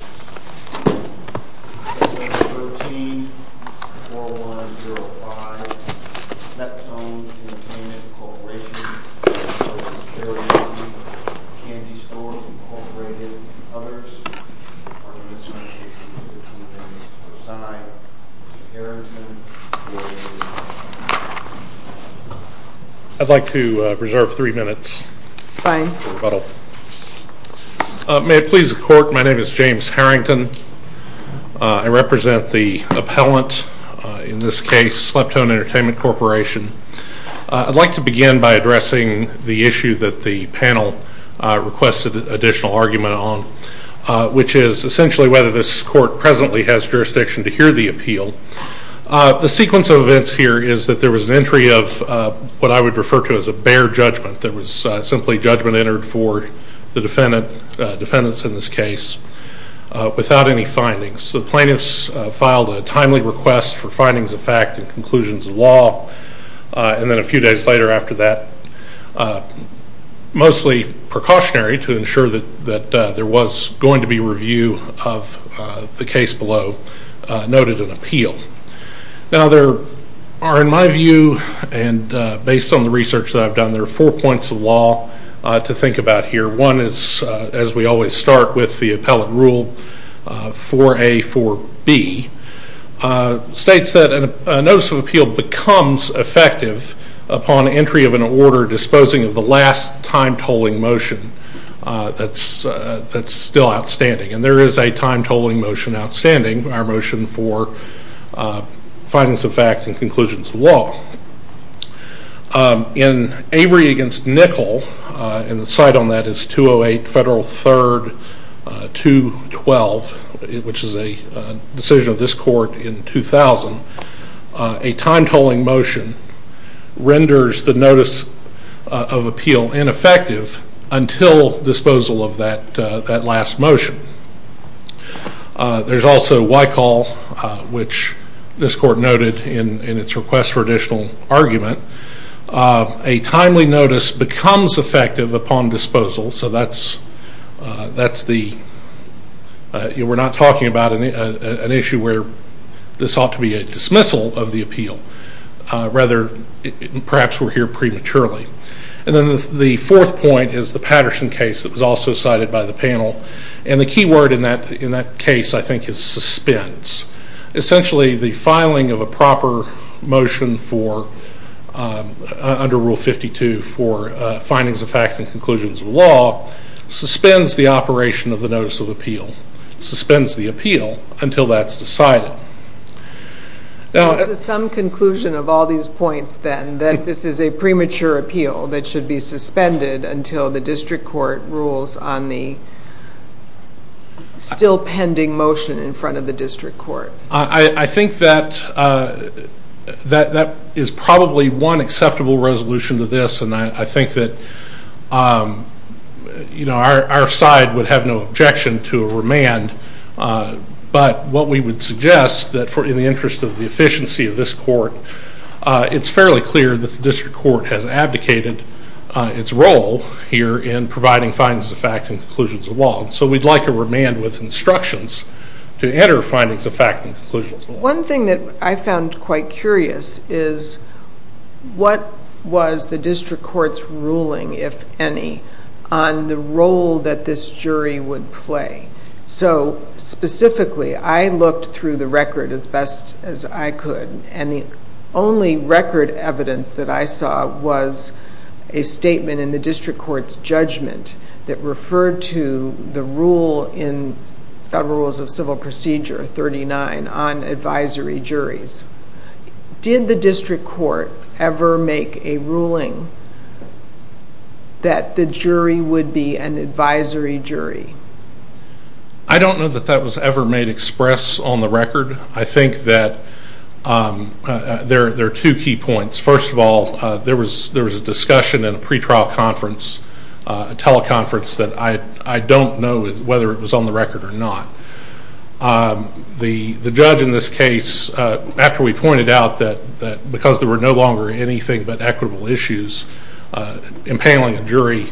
Candy Store, Inc. and others are in discontent with the convenience of the preside, Mr. Harrington, for a motion to adjourn. I'd like to reserve three minutes for rebuttal. May it please the Court, my name is James Harrington. I represent the appellant, in this case Slep Tone Entertainment Corporation. I'd like to begin by addressing the issue that the panel requested additional argument on, which is essentially whether this court presently has jurisdiction to hear the appeal. The sequence of events here is that there was an entry of what I would refer to as a bare judgment. There was simply judgment entered for the defendants in this case without any findings. The plaintiffs filed a timely request for findings of fact and conclusions of law, and then a few days later after that, mostly precautionary to ensure that there was going to be review of the case below noted in appeal. Now there are, in my view, and based on the research that I've done, there are four points of law to think about here. One is, as we always start with the appellate rule, 4A, 4B states that a notice of appeal becomes effective upon entry of an order disposing of the last time-tolling motion that's still outstanding. And there is a time-tolling motion outstanding, our motion for findings of fact and conclusions of law. In Avery v. Nickel, and the cite on that is 208 Federal 3rd. 212, which is a decision of this court in 2000, a time-tolling motion renders the notice of appeal ineffective until disposal of that last motion. There's also Wycall, which this court noted in its request for additional argument. A timely notice becomes effective upon disposal. So that's the, we're not talking about an issue where this ought to be a dismissal of the appeal. Rather, perhaps we're here prematurely. And then the fourth point is the Patterson case that was also cited by the panel. And the key word in that case, I think, is suspense. Essentially, the filing of a proper motion for, under Rule 52, for findings of fact and conclusions of law, suspends the operation of the notice of appeal. Suspends the appeal until that's decided. So this is some conclusion of all these points, then, that this is a premature appeal that should be suspended until the district court rules on the still-pending motion in front of the district court. I think that that is probably one acceptable resolution to this, and I think that our side would have no objection to a remand. But what we would suggest, in the interest of the efficiency of this court, it's fairly clear that the district court has abdicated its role here in providing findings of fact and conclusions of law. So we'd like a remand with instructions to enter findings of fact and conclusions of law. One thing that I found quite curious is what was the district court's ruling, if any, on the role that this jury would play? So, specifically, I looked through the record as best as I could, and the only record evidence that I saw was a statement in the district court's judgment that referred to the rule in Federal Rules of Civil Procedure 39 on advisory juries. Did the district court ever make a ruling that the jury would be an advisory jury? I don't know that that was ever made express on the record. I think that there are two key points. First of all, there was a discussion in a pre-trial conference, a teleconference, that I don't know whether it was on the record or not. The judge in this case, after we pointed out that because there were no longer anything but equitable issues, impaling a jury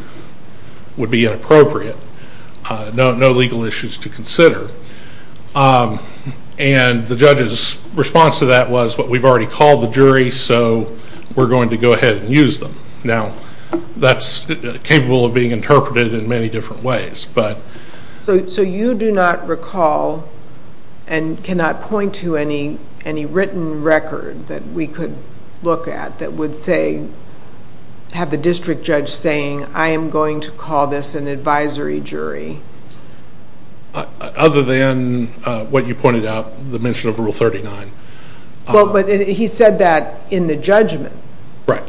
would be inappropriate, no legal issues to consider. And the judge's response to that was, well, we've already called the jury, so we're going to go ahead and use them. Now, that's capable of being interpreted in many different ways. So you do not recall and cannot point to any written record that we could look at that would say, have the district judge saying, I am going to call this an advisory jury? Other than what you pointed out, the mention of Rule 39. Well, but he said that in the judgment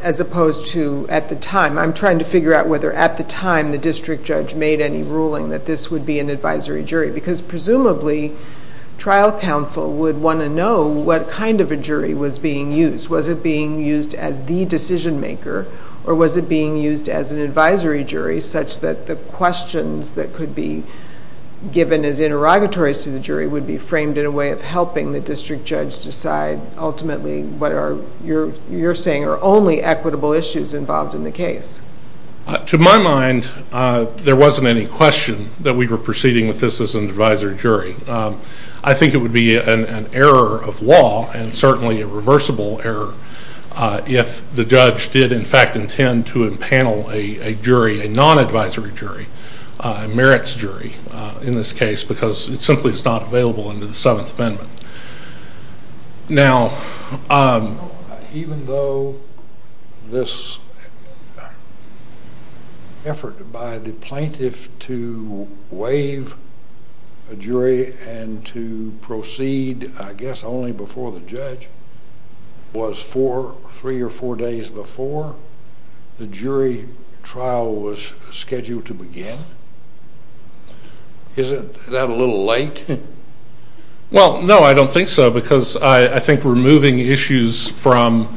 as opposed to at the time. I'm trying to figure out whether at the time the district judge made any ruling that this would be an advisory jury, because presumably trial counsel would want to know what kind of a jury was being used. Was it being used as the decision maker, or was it being used as an advisory jury, such that the questions that could be given as interrogatories to the jury would be framed in a way of helping the district judge decide ultimately what are, you're saying, are only equitable issues involved in the case? To my mind, there wasn't any question that we were proceeding with this as an advisory jury. I think it would be an error of law and certainly a reversible error if the judge did, in fact, intend to empanel a jury, a non-advisory jury, a merits jury in this case, because it simply is not available under the Seventh Amendment. Now, even though this effort by the plaintiff to waive a jury and to proceed, I guess, only before the judge, was three or four days before the jury trial was scheduled to begin, isn't that a little late? Well, no, I don't think so, because I think removing issues from,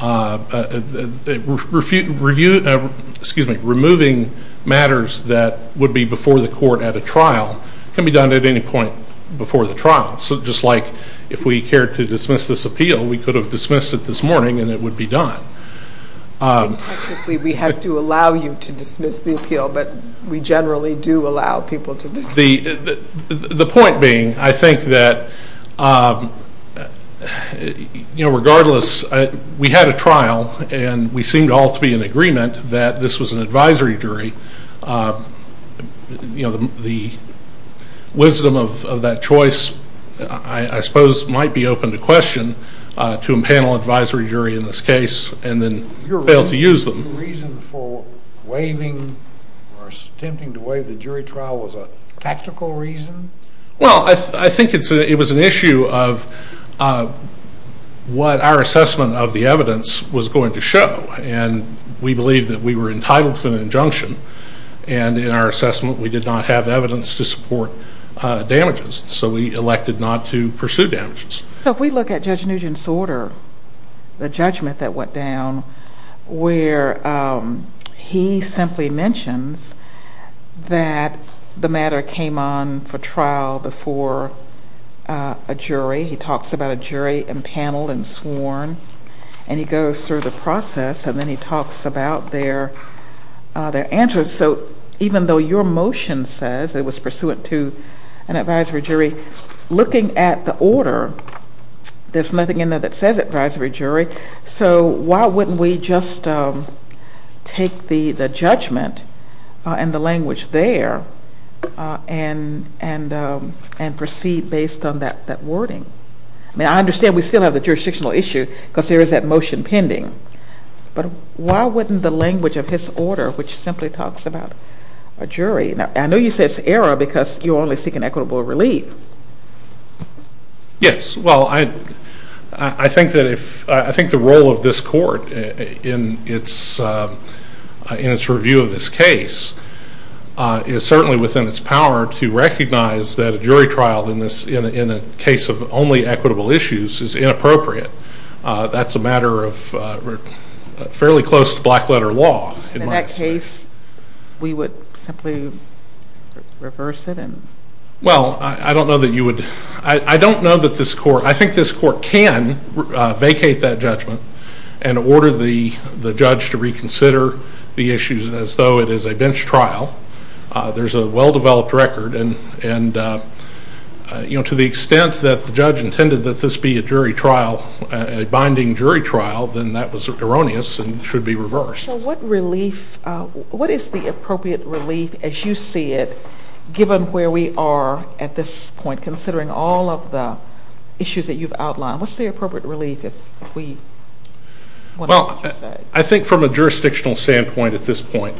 excuse me, removing matters that would be before the court at a trial can be done at any point before the trial. So just like if we cared to dismiss this appeal, we could have dismissed it this morning and it would be done. Technically, we have to allow you to dismiss the appeal, but we generally do allow people to dismiss it. The point being, I think that, you know, regardless, we had a trial and we seemed all to be in agreement that this was an advisory jury. You know, the wisdom of that choice, I suppose, might be open to question to empanel an advisory jury in this case and then fail to use them. The reason for waiving or attempting to waive the jury trial was a tactical reason? Well, I think it was an issue of what our assessment of the evidence was going to show, and we believe that we were entitled to an injunction, and in our assessment, we did not have evidence to support damages, so we elected not to pursue damages. If we look at Judge Nugent's order, the judgment that went down, where he simply mentions that the matter came on for trial before a jury. He talks about a jury empaneled and sworn, and he goes through the process, and then he talks about their answers. So even though your motion says it was pursuant to an advisory jury, looking at the order, there's nothing in there that says advisory jury, so why wouldn't we just take the judgment and the language there and proceed based on that wording? I mean, I understand we still have the jurisdictional issue because there is that motion pending, but why wouldn't the language of his order, which simply talks about a jury? Now, I know you say it's error because you're only seeking equitable relief. Yes, well, I think the role of this court in its review of this case is certainly within its power to recognize that a jury trial in a case of only equitable issues is inappropriate. That's a matter of fairly close to black letter law. In that case, we would simply reverse it? Well, I don't know that you would. I don't know that this court, I think this court can vacate that judgment and order the judge to reconsider the issues as though it is a bench trial. There's a well-developed record, and to the extent that the judge intended that this be a jury trial, a binding jury trial, then that was erroneous and should be reversed. So what is the appropriate relief, as you see it, given where we are at this point, considering all of the issues that you've outlined? What's the appropriate relief, if we want to say? Well, I think from a jurisdictional standpoint at this point,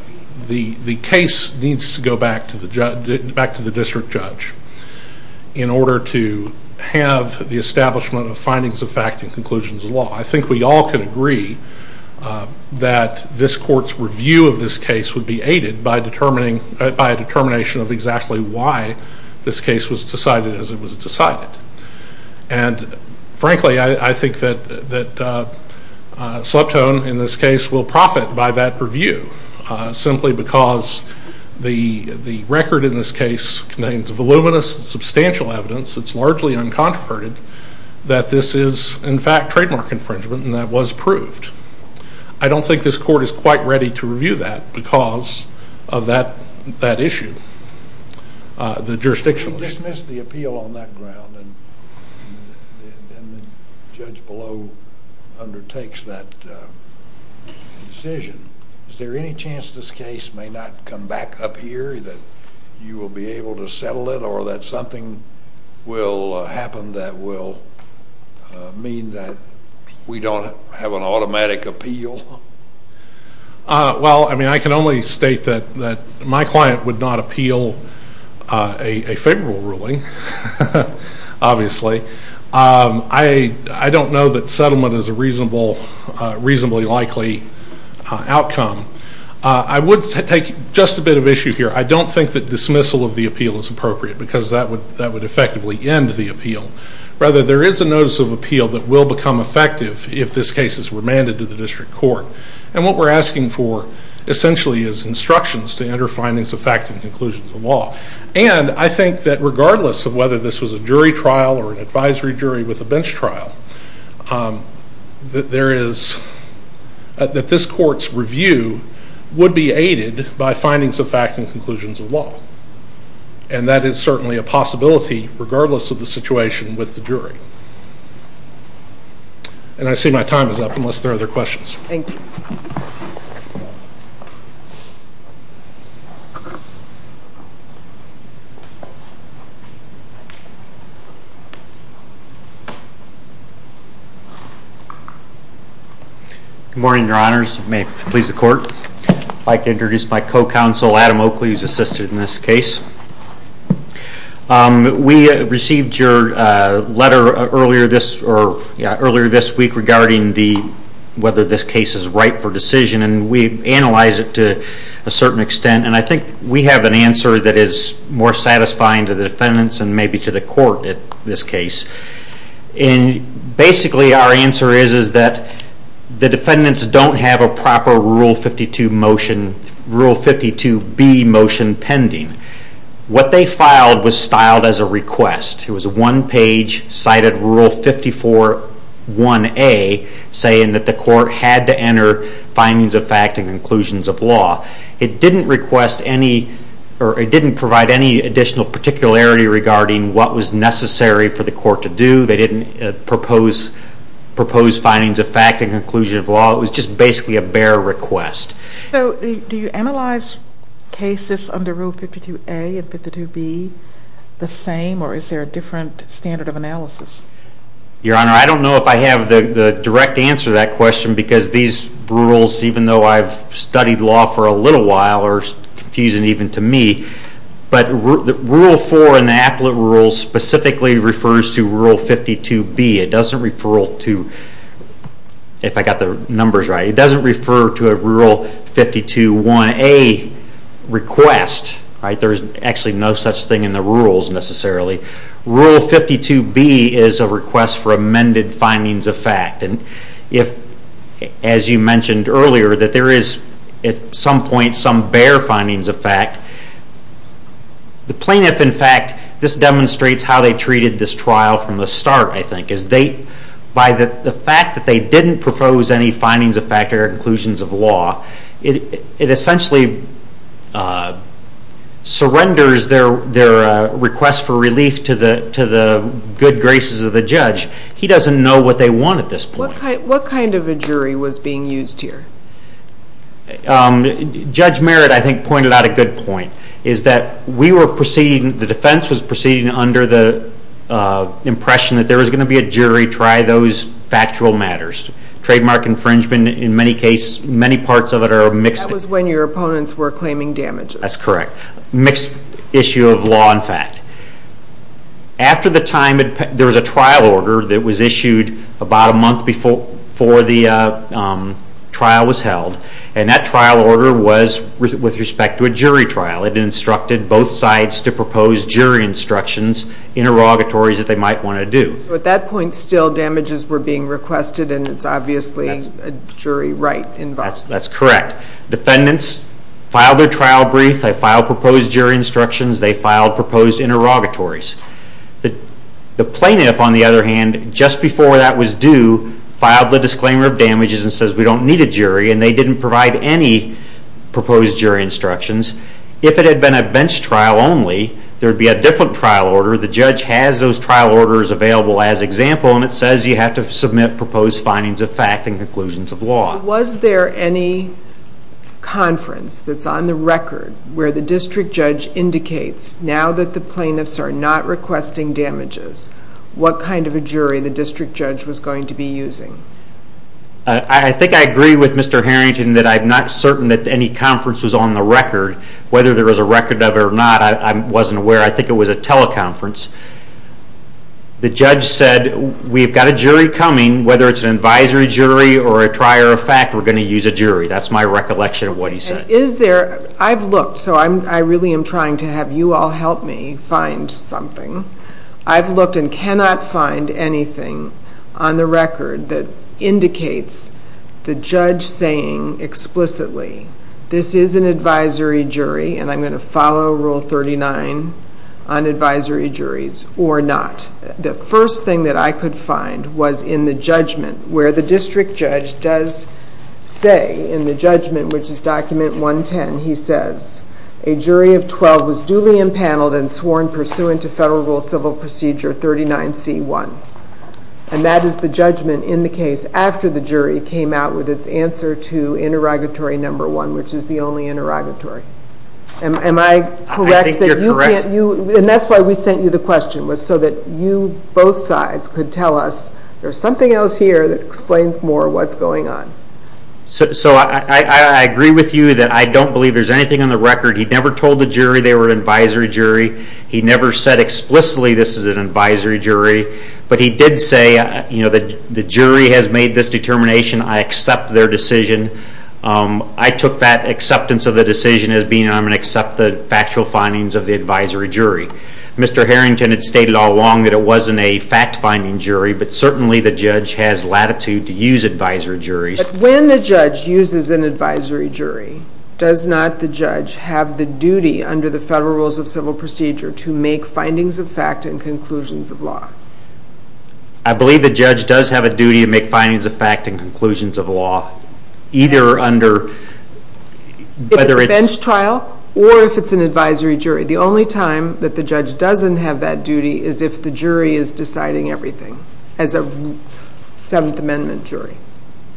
the case needs to go back to the district judge in order to have the establishment of findings of fact and conclusions of law. I think we all can agree that this court's review of this case would be aided by a determination of exactly why this case was decided as it was decided. And frankly, I think that Sleptone, in this case, will profit by that review simply because the record in this case contains voluminous and substantial evidence that's largely uncontroverted that this is, in fact, trademark infringement, and that was proved. I don't think this court is quite ready to review that because of that issue, the jurisdictional issue. We'll dismiss the appeal on that ground, and the judge below undertakes that decision. Is there any chance this case may not come back up here, that you will be able to settle it, or that something will happen that will mean that we don't have an automatic appeal? Well, I mean, I can only state that my client would not appeal a favorable ruling, obviously. I don't know that settlement is a reasonably likely outcome. I would take just a bit of issue here. I don't think that dismissal of the appeal is appropriate because that would effectively end the appeal. Rather, there is a notice of appeal that will become effective if this case is remanded to the district court. And what we're asking for, essentially, is instructions to enter findings of fact and conclusions of law. And I think that regardless of whether this was a jury trial or an advisory jury with a bench trial, that this court's review would be aided by findings of fact and conclusions of law. And that is certainly a possibility regardless of the situation with the jury. And I see my time is up unless there are other questions. Thank you. Good morning, Your Honors. May it please the Court. I'd like to introduce my co-counsel, Adam Oakley. He's assisted in this case. We received your letter earlier this week regarding whether this case is ripe for decision, and we analyzed it to a certain extent. And I think we have an answer that is more satisfying to the defendants and maybe to the court in this case. And basically our answer is that the defendants don't have a proper Rule 52B motion pending. What they filed was styled as a request. It was a one-page cited Rule 54.1a saying that the court had to enter findings of fact and conclusions of law. It didn't provide any additional particularity regarding what was necessary for the court to do. They didn't propose findings of fact and conclusions of law. It was just basically a bare request. So do you analyze cases under Rule 52A and 52B the same, or is there a different standard of analysis? Your Honor, I don't know if I have the direct answer to that question because these rules, even though I've studied law for a little while, are confusing even to me. But Rule 4 in the appellate rules specifically refers to Rule 52B. It doesn't refer to a Rule 52.1a request. There's actually no such thing in the rules necessarily. Rule 52B is a request for amended findings of fact. As you mentioned earlier, that there is at some point some bare findings of fact. The plaintiff, in fact, this demonstrates how they treated this trial from the start, I think. By the fact that they didn't propose any findings of fact or conclusions of law, it essentially surrenders their request for relief to the good graces of the judge. He doesn't know what they want at this point. What kind of a jury was being used here? Judge Merritt, I think, pointed out a good point. The defense was proceeding under the impression that there was going to be a jury to try those factual matters. Trademark infringement, in many cases, many parts of it are mixed. That was when your opponents were claiming damages. That's correct. Mixed issue of law and fact. After the time, there was a trial order that was issued about a month before the trial was held. That trial order was with respect to a jury trial. It instructed both sides to propose jury instructions, interrogatories that they might want to do. At that point still, damages were being requested and it's obviously a jury right involved. That's correct. Defendants filed their trial brief. They filed proposed jury instructions. They filed proposed interrogatories. The plaintiff, on the other hand, just before that was due, filed the disclaimer of damages and says we don't need a jury and they didn't provide any proposed jury instructions. If it had been a bench trial only, there would be a different trial order. The judge has those trial orders available as example and it says you have to submit proposed findings of fact and conclusions of law. Was there any conference that's on the record where the district judge indicates now that the plaintiffs are not requesting damages, what kind of a jury the district judge was going to be using? I think I agree with Mr. Harrington that I'm not certain that any conference was on the record. Whether there was a record of it or not, I wasn't aware. I think it was a teleconference. The judge said we've got a jury coming. Whether it's an advisory jury or a trier of fact, we're going to use a jury. That's my recollection of what he said. I've looked, so I really am trying to have you all help me find something. I've looked and cannot find anything on the record that indicates the judge saying explicitly this is an advisory jury and I'm going to follow Rule 39 on advisory juries or not. The first thing that I could find was in the judgment where the district judge does say in the judgment which is Document 110, he says, a jury of 12 was duly impaneled and sworn pursuant to Federal Rule Civil Procedure 39C1. That is the judgment in the case after the jury came out with its answer to Interrogatory No. 1, which is the only interrogatory. Am I correct? I think you're correct. That's why we sent you the question, so that you both sides could tell us there's something else here that explains more what's going on. I agree with you that I don't believe there's anything on the record. He never told the jury they were an advisory jury. He never said explicitly this is an advisory jury, but he did say the jury has made this determination. I accept their decision. I took that acceptance of the decision as being I'm going to accept the factual findings of the advisory jury. Mr. Harrington had stated all along that it wasn't a fact-finding jury, but certainly the judge has latitude to use advisory juries. When the judge uses an advisory jury, does not the judge have the duty under the Federal Rules of Civil Procedure to make findings of fact and conclusions of law? I believe the judge does have a duty to make findings of fact and conclusions of law, either under whether it's a bench trial or if it's an advisory jury. The only time that the judge doesn't have that duty is if the jury is deciding everything, as a Seventh Amendment jury.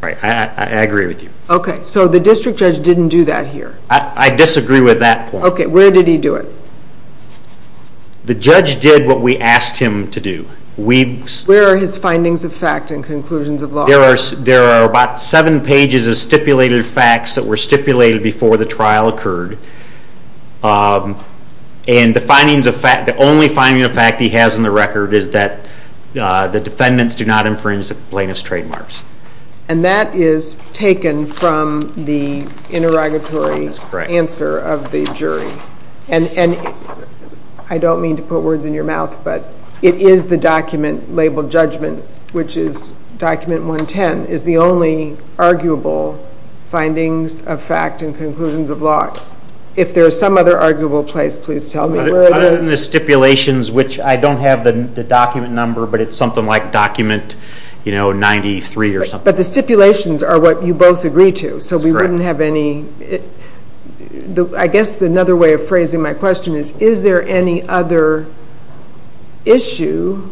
I agree with you. Okay, so the district judge didn't do that here? I disagree with that point. Okay, where did he do it? The judge did what we asked him to do. Where are his findings of fact and conclusions of law? There are about seven pages of stipulated facts that were stipulated before the trial occurred, and the only finding of fact he has in the record is that the defendants do not infringe the plaintiff's trademarks. And that is taken from the interrogatory answer of the jury. And I don't mean to put words in your mouth, but it is the document labeled judgment, which is document 110, is the only arguable findings of fact and conclusions of law. If there is some other arguable place, please tell me where it is. Other than the stipulations, which I don't have the document number, but it's something like document 93 or something. But the stipulations are what you both agree to, so we wouldn't have any. I guess another way of phrasing my question is, is there any other issue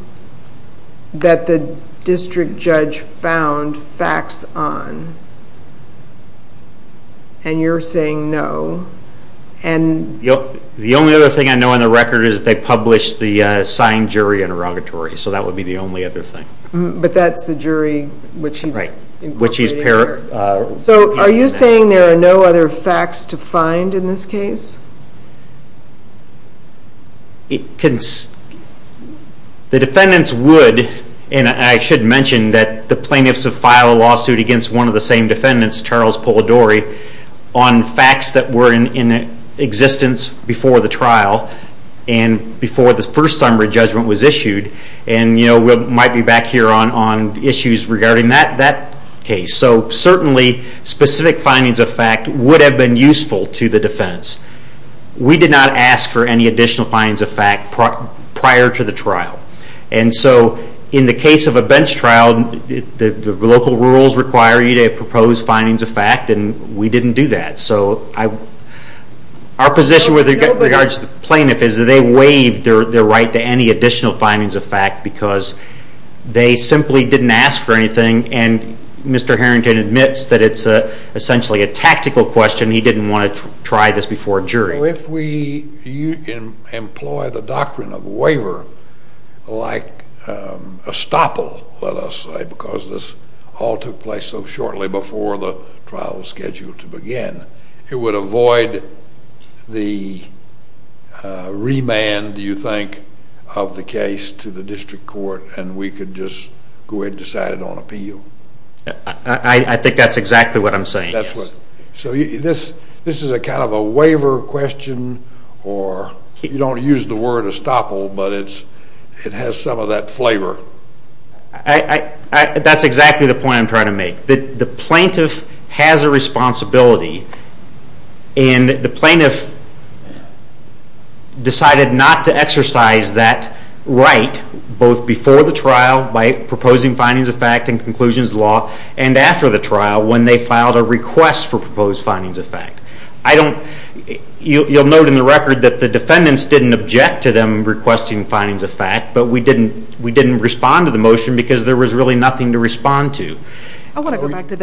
that the district judge found facts on? And you're saying no. The only other thing I know in the record is they published the signed jury interrogatory, so that would be the only other thing. But that's the jury which he's interrogating? Right. So are you saying there are no other facts to find in this case? The defendants would, and I should mention that the plaintiffs have filed a lawsuit against one of the same defendants, Charles Polidori, on facts that were in existence before the trial and before the first summary judgment was issued. And we might be back here on issues regarding that case. So certainly specific findings of fact would have been useful to the defense. We did not ask for any additional findings of fact prior to the trial. And so in the case of a bench trial, the local rules require you to propose findings of fact, and we didn't do that. So our position with regards to the plaintiff is that they waived their right to any additional findings of fact because they simply didn't ask for anything, and Mr. Harrington admits that it's essentially a tactical question. He didn't want to try this before a jury. So if we employ the doctrine of waiver like estoppel, let us say, because this all took place so shortly before the trial was scheduled to begin, it would avoid the remand, do you think, of the case to the district court, and we could just go ahead and decide it on appeal? I think that's exactly what I'm saying, yes. So this is a kind of a waiver question, or you don't use the word estoppel, but it has some of that flavor. That's exactly the point I'm trying to make. The plaintiff has a responsibility, and the plaintiff decided not to exercise that right both before the trial by proposing findings of fact and after the trial when they filed a request for proposed findings of fact. You'll note in the record that the defendants didn't object to them requesting findings of fact, but we didn't respond to the motion because there was really nothing to respond to. I want to go back to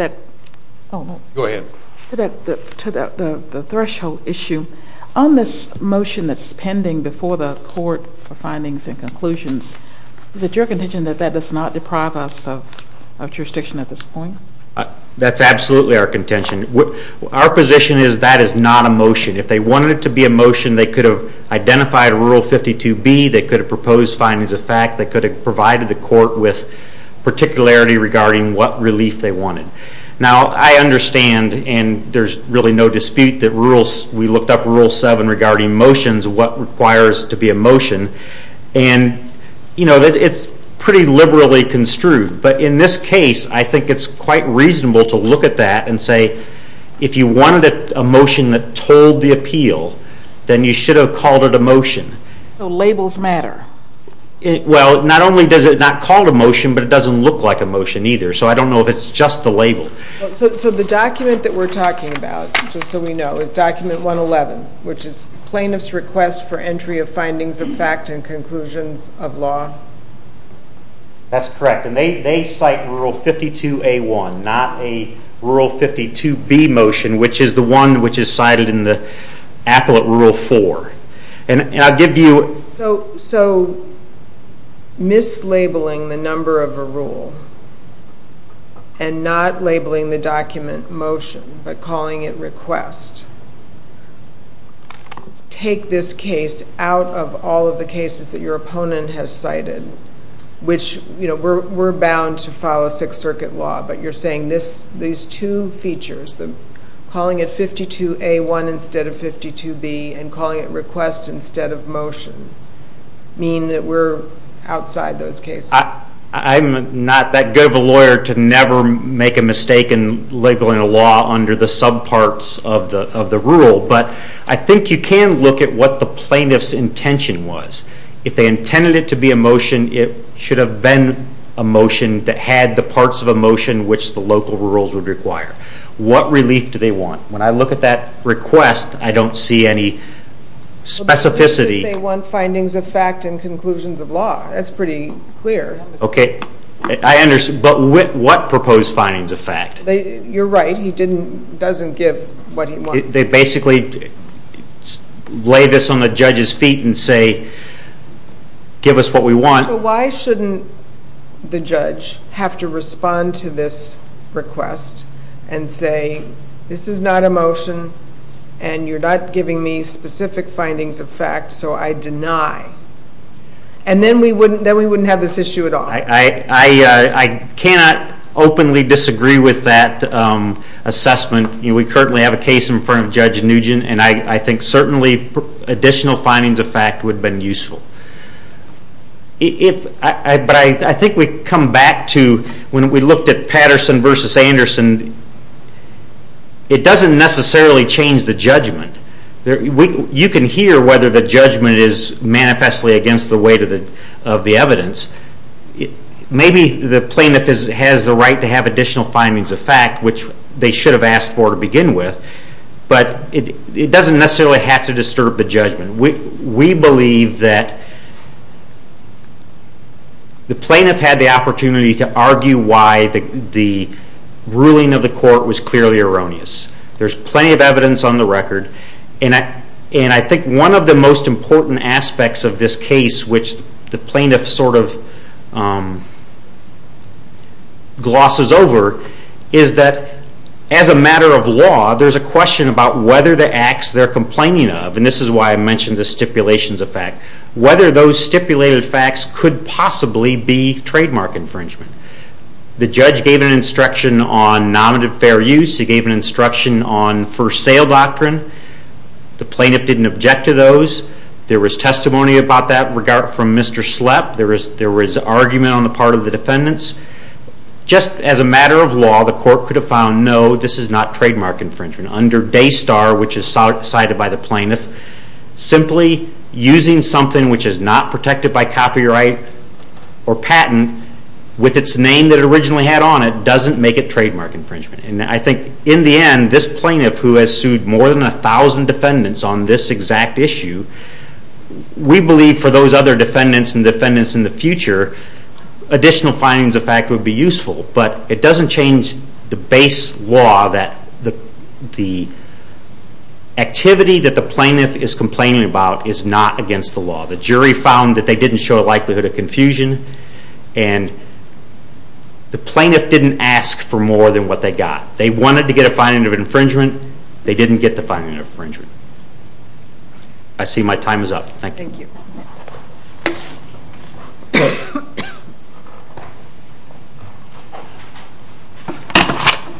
that threshold issue. On this motion that's pending before the court for findings and conclusions, is it your contention that that does not deprive us of jurisdiction at this point? That's absolutely our contention. Our position is that is not a motion. If they wanted it to be a motion, they could have identified Rule 52B, they could have proposed findings of fact, they could have provided the court with particularity regarding what relief they wanted. Now I understand, and there's really no dispute, that it's pretty liberally construed. But in this case, I think it's quite reasonable to look at that and say, if you wanted a motion that told the appeal, then you should have called it a motion. So labels matter? Well, not only does it not call it a motion, but it doesn't look like a motion either. So I don't know if it's just the label. So the document that we're talking about, just so we know, is document 111, which is plaintiff's request for entry of findings of fact and conclusions of law? That's correct. And they cite Rule 52A1, not a Rule 52B motion, which is the one which is cited in the appellate Rule 4. And I'll give you... So mislabeling the number of a rule and not labeling the document motion, but calling it request, take this case out of all of the cases that your opponent has cited, which, you know, we're bound to follow Sixth Circuit law, but you're saying these two features, calling it 52A1 instead of 52B and calling it request instead of motion, mean that we're outside those cases? I'm not that good of a lawyer to never make a mistake in labeling a law under the subparts of the rule, but I think you can look at what the plaintiff's intention was. If they intended it to be a motion, it should have been a motion that had the parts of a motion which the local rules would require. What relief do they want? When I look at that request, I don't see any specificity. They want findings of fact and conclusions of law. That's pretty clear. Okay. I understand. But what proposed findings of fact? You're right. He doesn't give what he wants. They basically lay this on the judge's feet and say, give us what we want. So why shouldn't the judge have to respond to this request and say this is not a motion and you're not giving me specific findings of fact, so I deny. And then we wouldn't have this issue at all. I cannot openly disagree with that assessment. We currently have a case in front of Judge Nugent, and I think certainly additional findings of fact would have been useful. But I think we come back to when we looked at Patterson v. Anderson, it doesn't necessarily change the judgment. You can hear whether the judgment is manifestly against the weight of the evidence. Maybe the plaintiff has the right to have additional findings of fact, which they should have asked for to begin with, but it doesn't necessarily have to disturb the judgment. We believe that the plaintiff had the opportunity to argue why the ruling of the court was clearly erroneous. There's plenty of evidence on the record, and I think one of the most important aspects of this case which the plaintiff sort of glosses over is that as a matter of law, there's a question about whether the acts they're complaining of, and this is why I mentioned the stipulations of fact, whether those stipulated facts could possibly be trademark infringement. The judge gave an instruction on non-fair use. He gave an instruction on first sale doctrine. The plaintiff didn't object to those. There was testimony about that from Mr. Slepp. There was argument on the part of the defendants. Just as a matter of law, the court could have found, no, this is not trademark infringement. Under Daystar, which is cited by the plaintiff, simply using something which is not protected by copyright or patent with its name that it originally had on it doesn't make it trademark infringement. I think in the end, this plaintiff who has sued more than a thousand defendants on this exact issue, we believe for those other defendants and defendants in the future, additional findings of fact would be useful, but it doesn't change the base law that the activity that the plaintiff is complaining about is not against the law. The jury found that they didn't show a likelihood of confusion and the plaintiff didn't ask for more than what they got. They wanted to get a finding of infringement. They didn't get the finding of infringement. I see my time is up. Thank you.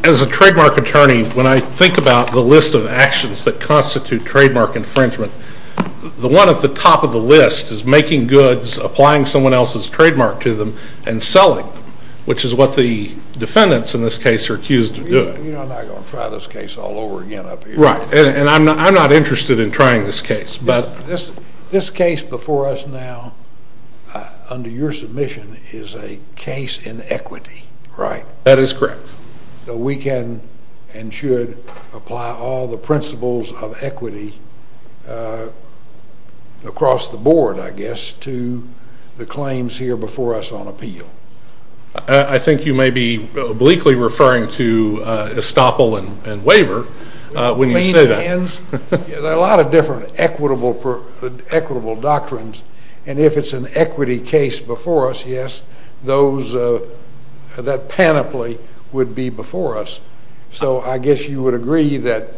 As a trademark attorney, when I think about the list of actions that constitute trademark infringement, the one at the top of the list is making goods, applying someone else's trademark to them, and selling them, which is what the defendants in this case are accused of doing. I'm not going to try this case all over again up here. Right. And I'm not interested in trying this case. This case before us now, under your submission, is a case in equity. Right. That is correct. We can and should apply all the principles of equity across the board, I guess, to the claims here before us on appeal. I think you may be obliquely referring to estoppel and waiver when you say that. There are a lot of different equitable doctrines, and if it's an equity case before us, yes, that panoply would be before us. So I guess you would agree that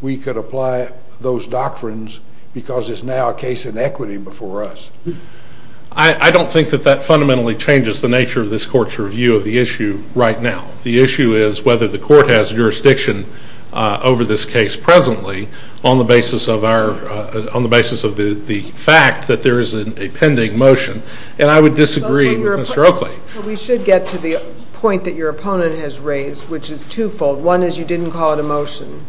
we could apply those doctrines because it's now a case in equity before us. I don't think that that fundamentally changes the nature of this Court's review of the issue right now. The issue is whether the Court has jurisdiction over this case presently on the basis of the fact that there is a pending motion, and I would disagree with Mr. Oakley. We should get to the point that your opponent has raised, which is twofold. One is you didn't call it a motion,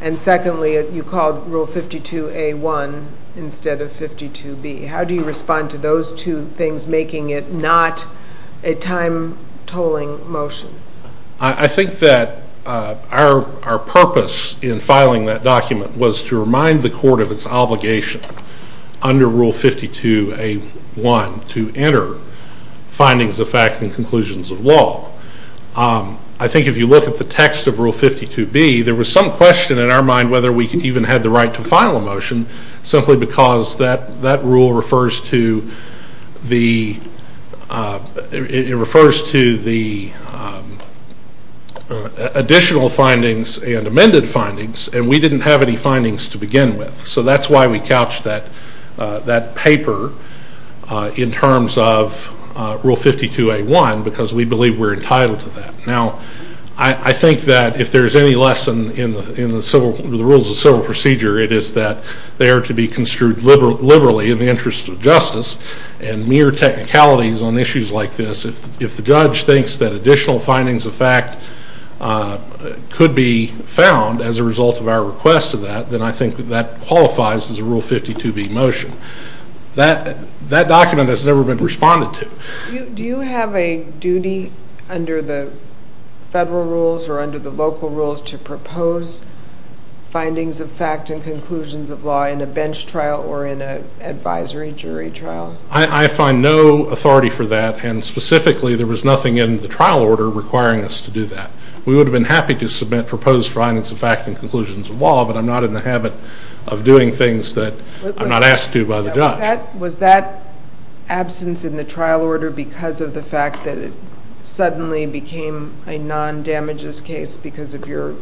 and secondly, you called Rule 52A.1 instead of 52B. How do you respond to those two things making it not a time-tolling motion? I think that our purpose in filing that document was to remind the Court of its obligation under Rule 52A.1 to enter findings of fact and conclusions of law. I think if you look at the text of Rule 52B, there was some question in our mind whether we even had the right to file a motion simply because that rule refers to the additional findings and amended findings, and we didn't have any findings to begin with. So that's why we couched that paper in terms of Rule 52A.1 because we believe we're entitled to that. Now, I think that if there's any lesson in the rules of civil procedure, it is that they are to be construed liberally in the interest of justice, and mere technicalities on issues like this, if the judge thinks that additional findings of fact could be found as a result of our request of that, then I think that qualifies as a Rule 52B motion. That document has never been responded to. Do you have a duty under the federal rules or under the local rules to propose findings of fact and conclusions of law in a bench trial or in an advisory jury trial? I find no authority for that, and specifically there was nothing in the trial order requiring us to do that. We would have been happy to submit proposed findings of fact and conclusions of law, that I'm not asked to by the judge. Was that absence in the trial order because of the fact that it suddenly became a non-damages case because of your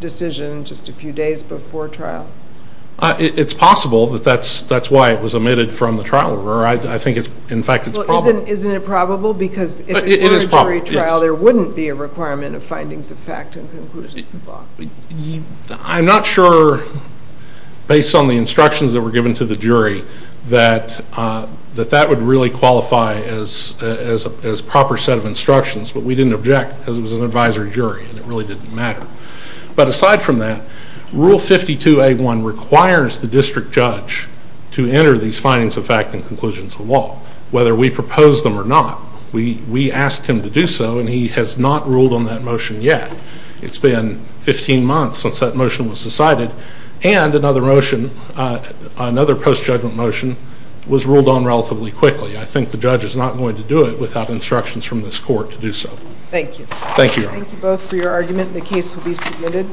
decision just a few days before trial? It's possible that that's why it was omitted from the trial order. I think, in fact, it's probable. Isn't it probable? Because if it were a jury trial, there wouldn't be a requirement of findings of fact and conclusions of law. I'm not sure, based on the instructions that were given to the jury, that that would really qualify as a proper set of instructions, but we didn't object because it was an advisory jury and it really didn't matter. But aside from that, Rule 52A1 requires the district judge to enter these findings of fact and conclusions of law, whether we propose them or not. We asked him to do so and he has not ruled on that motion yet. It's been 15 months since that motion was decided, and another motion, another post-judgment motion, was ruled on relatively quickly. I think the judge is not going to do it without instructions from this court to do so. Thank you. Thank you. Thank you both for your argument. The case will be submitted.